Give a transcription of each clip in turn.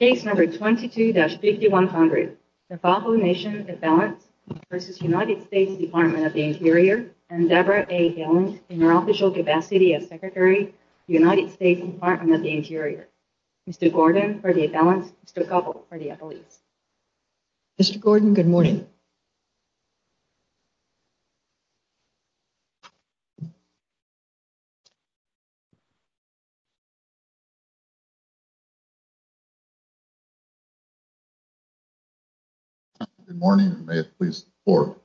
Case No. 22-5100, Tlalpan Nation, Iqbalans v. United States Department of the Interior and Debra A. Hillings in her official capacity as Secretary, United States Department of the Interior. Mr. Gordon for the Iqbalans, Mr. Cobble for the Iqbalese. Mr. Gordon, good morning. Good morning, and may it please the Court.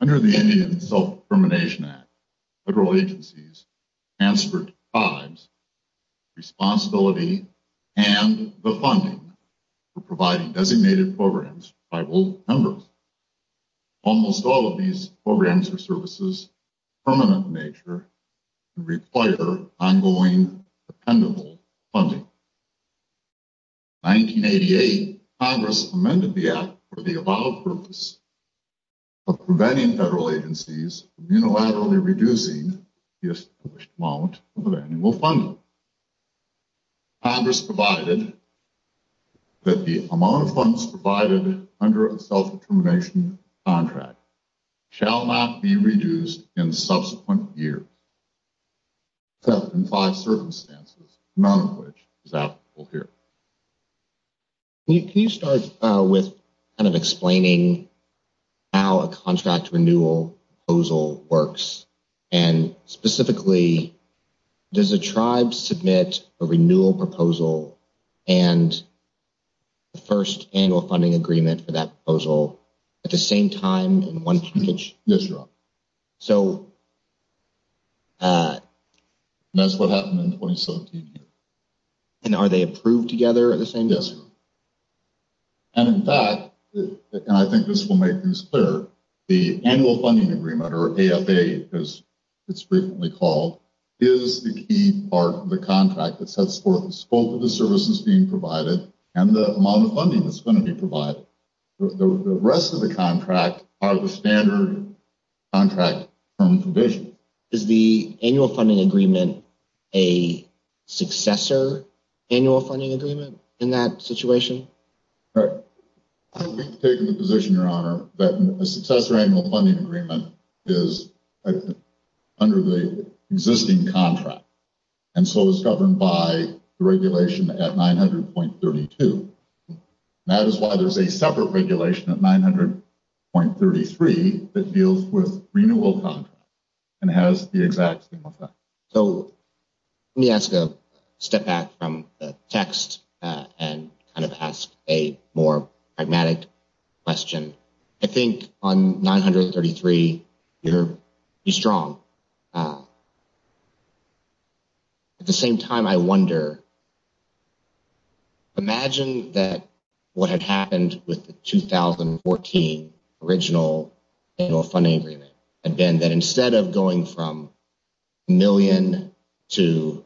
Under the Indian Self-Determination Act, federal agencies transferred to tribes the responsibility and the funding for providing designated programs to tribal members. Almost all of these programs or services are permanent in nature and require ongoing, dependable funding. In 1988, Congress amended the Act for the above purpose of preventing federal agencies from unilaterally reducing the established amount of annual funding. Congress provided that the amount of funds provided under a self-determination contract shall not be reduced in subsequent years, except in five circumstances, none of which is applicable here. Can you start with kind of explaining how a contract renewal proposal works? And specifically, does a tribe submit a renewal proposal and the first annual funding agreement for that proposal at the same time in one package? Yes, Your Honor. So that's what happened in 2017. And are they approved together at the same time? Yes, Your Honor. And in fact, and I think this will make things clear, the annual funding agreement, or AFA as it's frequently called, is the key part of the contract that sets forth both of the services being provided and the amount of funding that's going to be provided. The rest of the contract are the standard contract term provisions. Is the annual funding agreement a successor annual funding agreement in that situation? We've taken the position, Your Honor, that a successor annual funding agreement is under the existing contract and so is governed by the regulation at 900.32. That is why there's a separate regulation at 900.33 that deals with renewal contracts and has the exact same effect. So let me ask a step back from the text and kind of ask a more pragmatic question. I think on 900.33, you're strong. At the same time, I wonder, imagine that what had happened with the 2014 original annual funding agreement had been that instead of going from a million to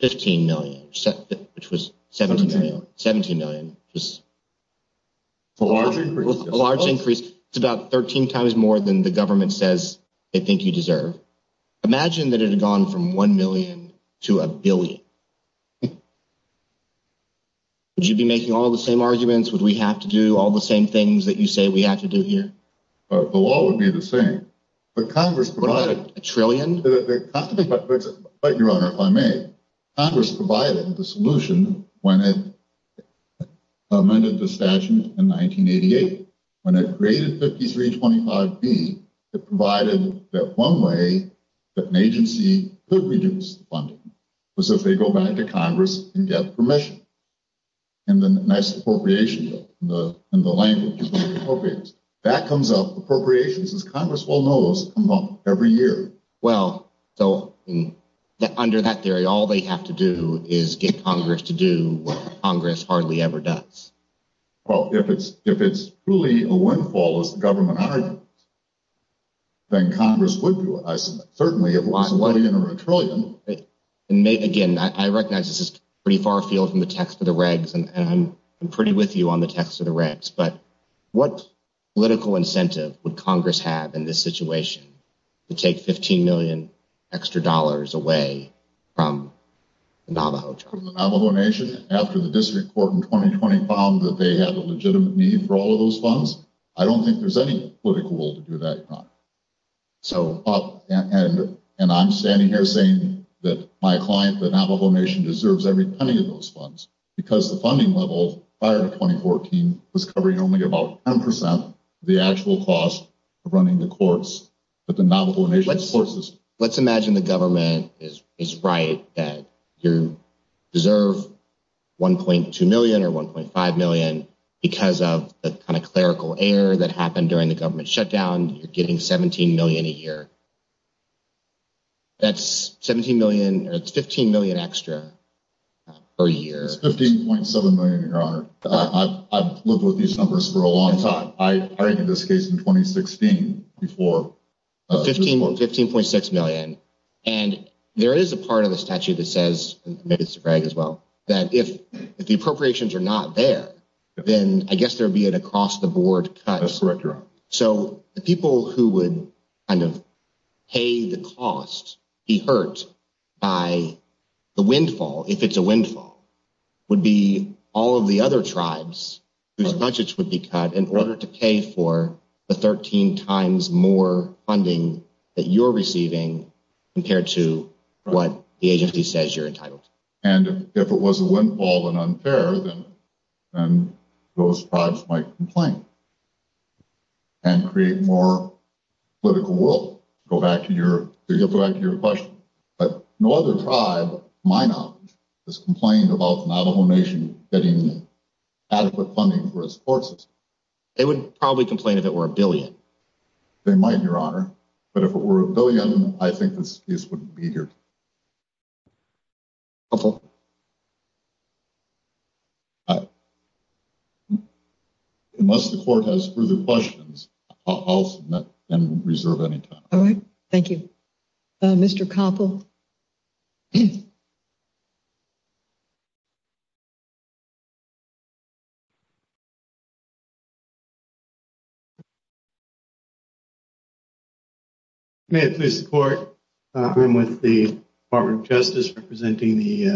15 million, which was 17 million, which was a large increase, it's about 13 times more than the government says they think you deserve. Imagine that it had gone from 1 million to a billion. Would you be making all the same arguments? Would we have to do all the same things that you say we have to do here? The law would be the same. But Congress provided a trillion. But, Your Honor, if I may, Congress provided the solution when it amended the statute in 1988. When it created 5325B, it provided that one way that an agency could reduce funding was if they go back to Congress and get permission. And then a nice appropriation bill in the language of the appropriations. That comes up, appropriations, as Congress well knows, come up every year. Well, so under that theory, all they have to do is get Congress to do what Congress hardly ever does. Well, if it's truly a windfall, as the government argues, then Congress would do it, I submit, certainly if it was a million or a trillion. Again, I recognize this is pretty far afield from the text of the regs, and I'm pretty with you on the text of the regs. But what political incentive would Congress have in this situation to take 15 million extra dollars away from the Navajo tribe? The Navajo Nation, after the district court in 2020 found that they had a legitimate need for all of those funds? I don't think there's any political will to do that, Your Honor. And I'm standing here saying that my client, the Navajo Nation, deserves every penny of those funds. Because the funding level prior to 2014 was covering only about 10% of the actual cost of running the courts that the Navajo Nation sources. Let's imagine the government is right that you deserve 1.2 million or 1.5 million because of the kind of clerical error that happened during the government shutdown. You're getting 17 million a year. That's 17 million, or it's 15 million extra per year. It's 15.7 million, Your Honor. I've lived with these numbers for a long time. I heard in this case in 2016 before the district court. 15.6 million. And there is a part of the statute that says, maybe it's a brag as well, that if the appropriations are not there, then I guess there would be an across the board cut. That's correct, Your Honor. So the people who would kind of pay the cost, be hurt by the windfall, if it's a windfall, would be all of the other tribes whose budgets would be cut in order to pay for the 13 times more funding that you're receiving compared to what the agency says you're entitled to. And if it was a windfall and unfair, then those tribes might complain and create more political will. Go back to your question. But no other tribe, my knowledge, has complained about the Navajo Nation getting adequate funding for its court system. They would probably complain if it were a billion. They might, Your Honor. But if it were a billion, I think this case wouldn't be here. Unless the court has further questions, I'll submit and reserve any time. All right. Thank you, Mr. May I please support? I'm with the Department of Justice representing the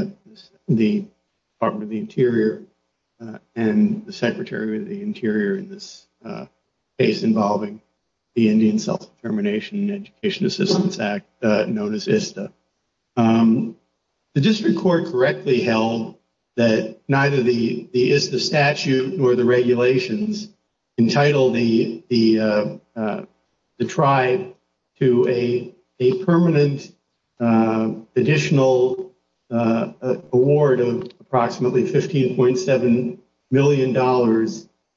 Department of the Interior and the Secretary of the Interior in this case involving the Indian Self-Determination and Education Assistance Act, known as ISEA. The district court correctly held that neither the ISTA statute nor the regulations entitled the tribe to a permanent additional award of approximately $15.7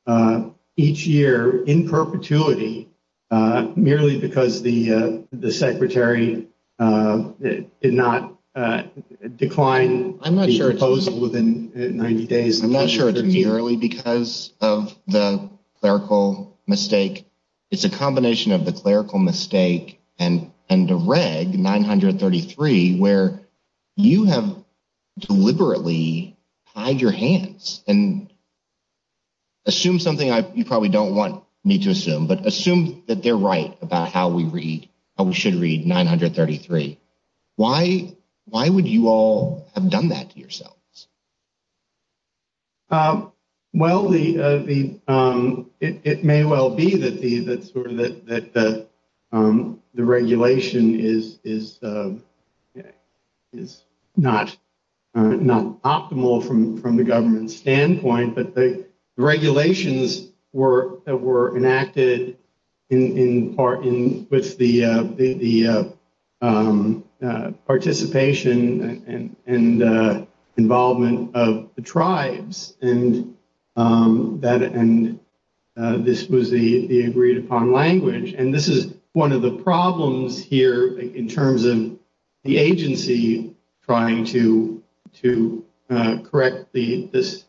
million each year in perpetuity. I'm not sure it's merely because of the clerical mistake. It's a combination of the clerical mistake and the reg 933 where you have deliberately tied your hands and assume something you probably don't want me to assume. But assume that they're right about how we read. We should read 933. Why? Why would you all have done that to yourselves? Well, the the it may well be that the that sort of that the regulation is is is not not optimal from from the government standpoint. But the regulations were that were enacted in part in with the the participation and involvement of the tribes and that and this was the agreed upon language. And this is one of the problems here in terms of the agency trying to to correct the this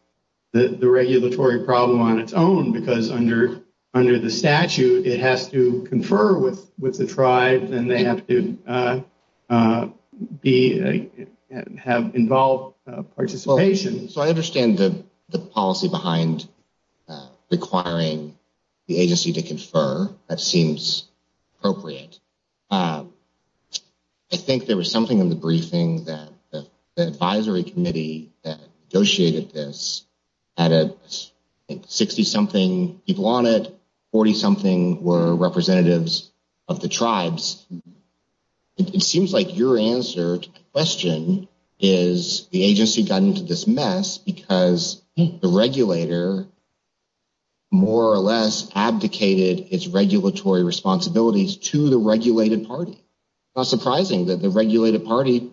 the regulatory problem on its own, because under under the statute, it has to confer with with the tribe and they have to be have involved participation. So I understand the the policy behind requiring the agency to confer. That seems appropriate. I think there was something in the briefing that the advisory committee that negotiated this added 60 something people on it. 40 something were representatives of the tribes. It seems like your answer to the question is the agency got into this mess because the regulator more or less abdicated its regulatory responsibilities to the regulated party. Not surprising that the regulated party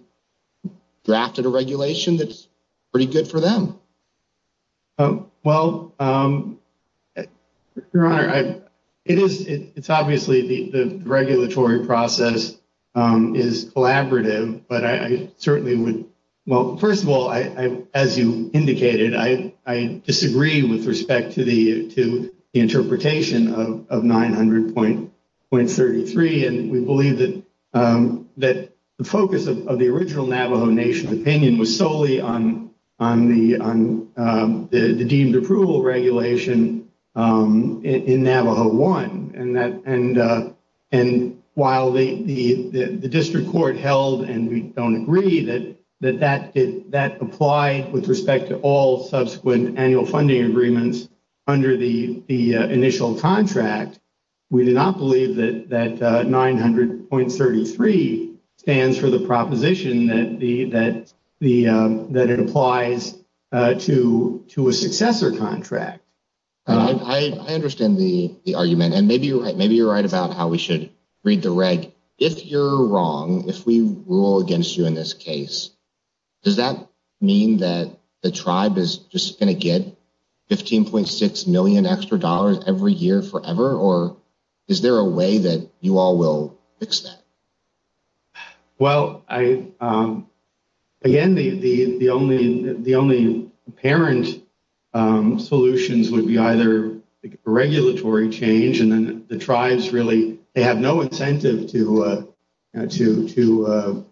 drafted a regulation that's pretty good for them. Well, your honor, it is it's obviously the regulatory process is collaborative, but I certainly would. Well, first of all, I, as you indicated, I, I disagree with respect to the to the interpretation of 900 point point thirty three. And we believe that that the focus of the original Navajo Nation opinion was solely on on the on the deemed approval regulation in Navajo one. And that and and while the district court held and we don't agree that that that did that apply with respect to all subsequent annual funding agreements under the initial contract. We do not believe that that nine hundred point thirty three stands for the proposition that the that the that it applies to to a successor contract. I understand the argument and maybe maybe you're right about how we should read the reg. If you're wrong, if we rule against you in this case, does that mean that the tribe is just going to get fifteen point six million extra dollars every year forever? Or is there a way that you all will fix that? Well, I again, the the the only the only parent solutions would be either regulatory change. And then the tribes really they have no incentive to to to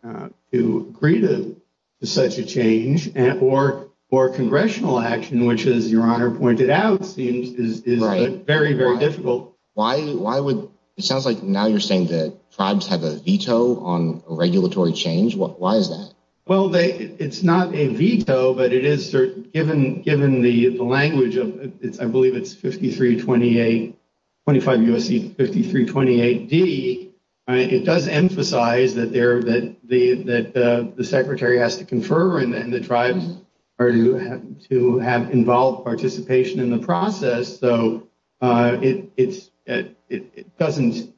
to agree to such a change or or congressional action, which is, your honor, pointed out seems is very, very difficult. So why why would it sounds like now you're saying that tribes have a veto on regulatory change? Why is that? Well, it's not a veto, but it is given given the language of it's I believe it's fifty three, twenty eight, twenty five U.S.C. Fifty three, twenty eight. It does emphasize that there that the that the secretary has to confirm and the tribes are to have to have involved participation in the process. So it's it doesn't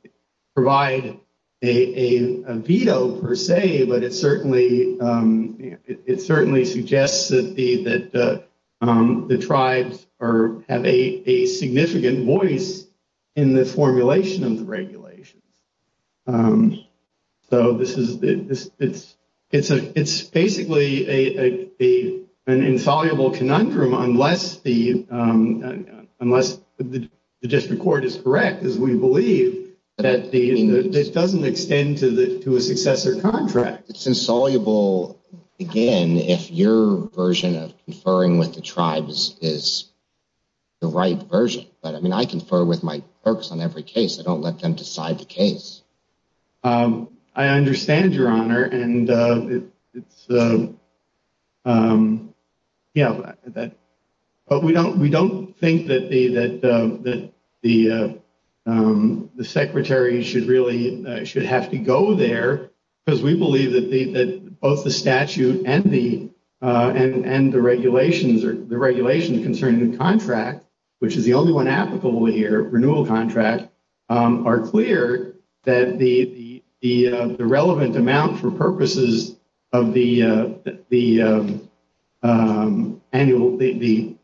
provide a veto per se, but it certainly it certainly suggests that the that the tribes are have a significant voice in the formulation of the regulations. So this is it's it's a it's basically a a a an insoluble conundrum unless the unless the district court is correct, as we believe that it doesn't extend to the to a successor contract. It's insoluble, again, if your version of conferring with the tribes is the right version. But I mean, I confer with my folks on every case. I don't let them decide the case. I understand your honor, and it's. Yeah. But we don't we don't think that the that the the secretary should really should have to go there because we believe that the that both the statute and the and the regulations or the regulation concerning the contract, which is the only one applicable here, renewal contract are clear that the, the, the, the relevant amount for purposes of the, the annual, the,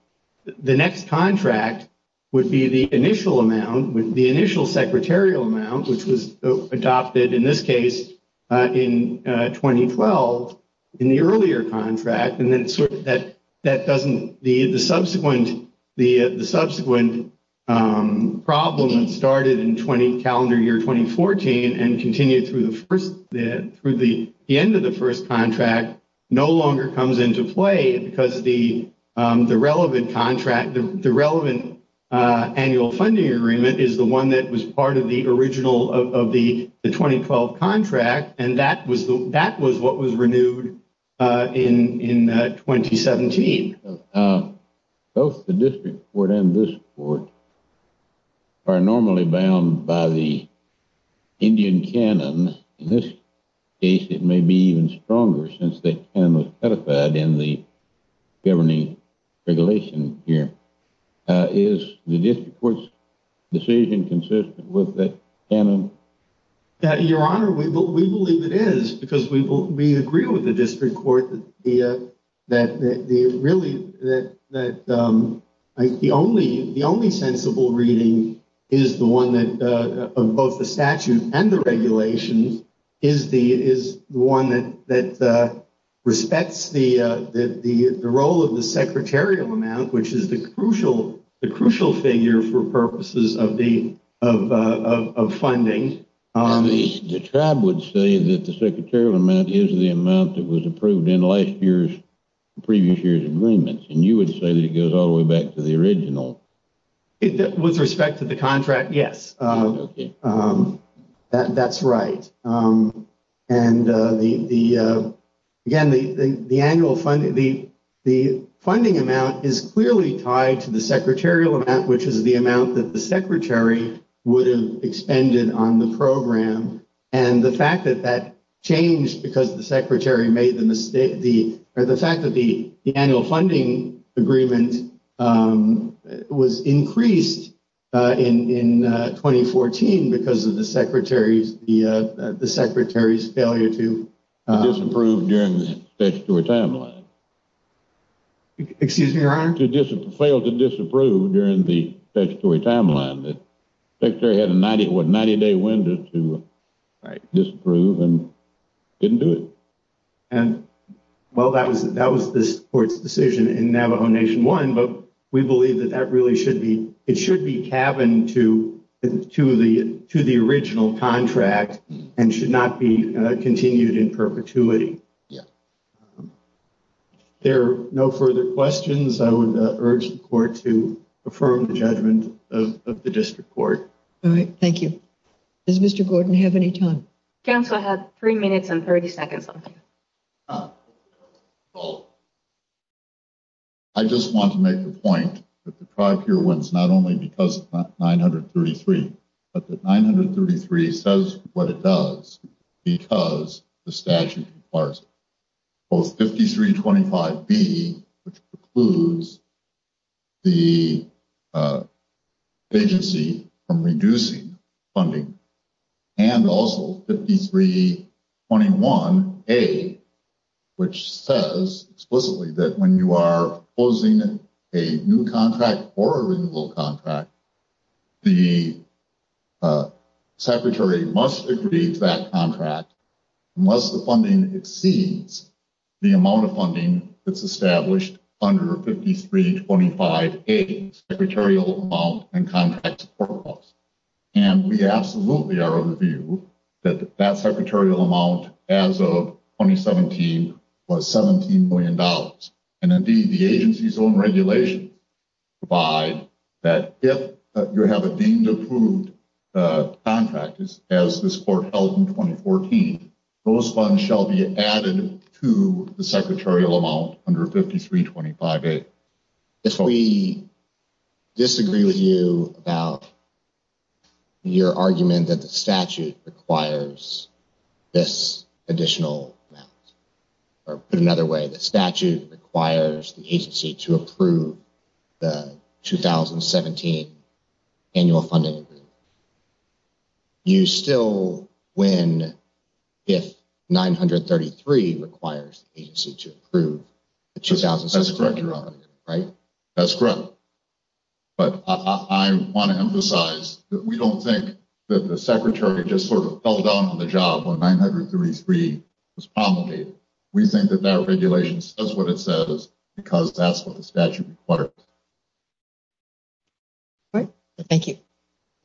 the next contract would be the initial amount with the initial secretarial amount, which was adopted in this case in twenty twelve in the earlier contract. And then that that doesn't the subsequent the subsequent problem started in twenty calendar year, twenty fourteen and continue through the first through the end of the first contract. No longer comes into play because the relevant contract, the relevant annual funding agreement is the one that was part of the original of the twenty twelve contract. And that was that was what was renewed in in twenty seventeen. Both the district court and this court are normally bound by the Indian canon. In this case, it may be even stronger since they can be identified in the governing regulation here. Is the district court's decision consistent with that? And your honor, we believe it is because we we agree with the district court that the that the really that that the only the only sensible reading is the one that of both the statute and the regulations is the is the one that that respects the, the, the, the role of the secretarial amount, which is the crucial, the crucial figure for purposes of the of of funding. The tribe would say that the secretarial amount is the amount that was approved in last year's previous year's agreements. And you would say that it goes all the way back to the original with respect to the contract. Yes, that's right. And the, the, again, the, the, the annual funding, the, the funding amount is clearly tied to the secretarial amount, which is the amount that the secretary would have expended on the program. And the fact that that changed because the secretary made the mistake, the fact that the annual funding agreement was increased in 2014 because of the secretary's, the secretary's failure to approve during the timeline. Excuse me, your honor to fail to disapprove during the statutory timeline, the secretary had a 90 day window to disprove and didn't do it. And well, that was that was this court's decision in Navajo Nation one, but we believe that that really should be it should be cabin to to the to the original contract and should not be continued in perpetuity. Yeah, there are no further questions I would urge the court to affirm the judgment of the district court. All right, thank you. Does Mr Gordon have any time? Council had 3 minutes and 30 seconds. I just want to make the point that the tribe here wins, not only because 933, but the 933 says what it does because the statute. Oh, 5325 B, which includes. The agency from reducing funding. And also 5321 a. Which says explicitly that when you are closing a new contract or a little contract. The secretary must agree to that contract. Unless the funding exceeds the amount of funding that's established under 5325, a secretarial amount and contracts. And we absolutely are of the view that that secretarial amount as of 2017 was 17Million dollars. And the agency's own regulation by that, if you have a deemed approved contractors, as this court held in 2014, those funds shall be added to the secretarial amount under 5325 a. If we disagree with you about. Your argument that the statute requires. This additional. Or put another way, the statute requires the agency to approve. The 2017 annual funding. You still win. If 933 requires agency to approve. Right, that's correct. But I want to emphasize that we don't think that the secretary just sort of fell down on the job when 933 was promulgated. We think that that regulation says what it says, because that's what the statute required. Thank you.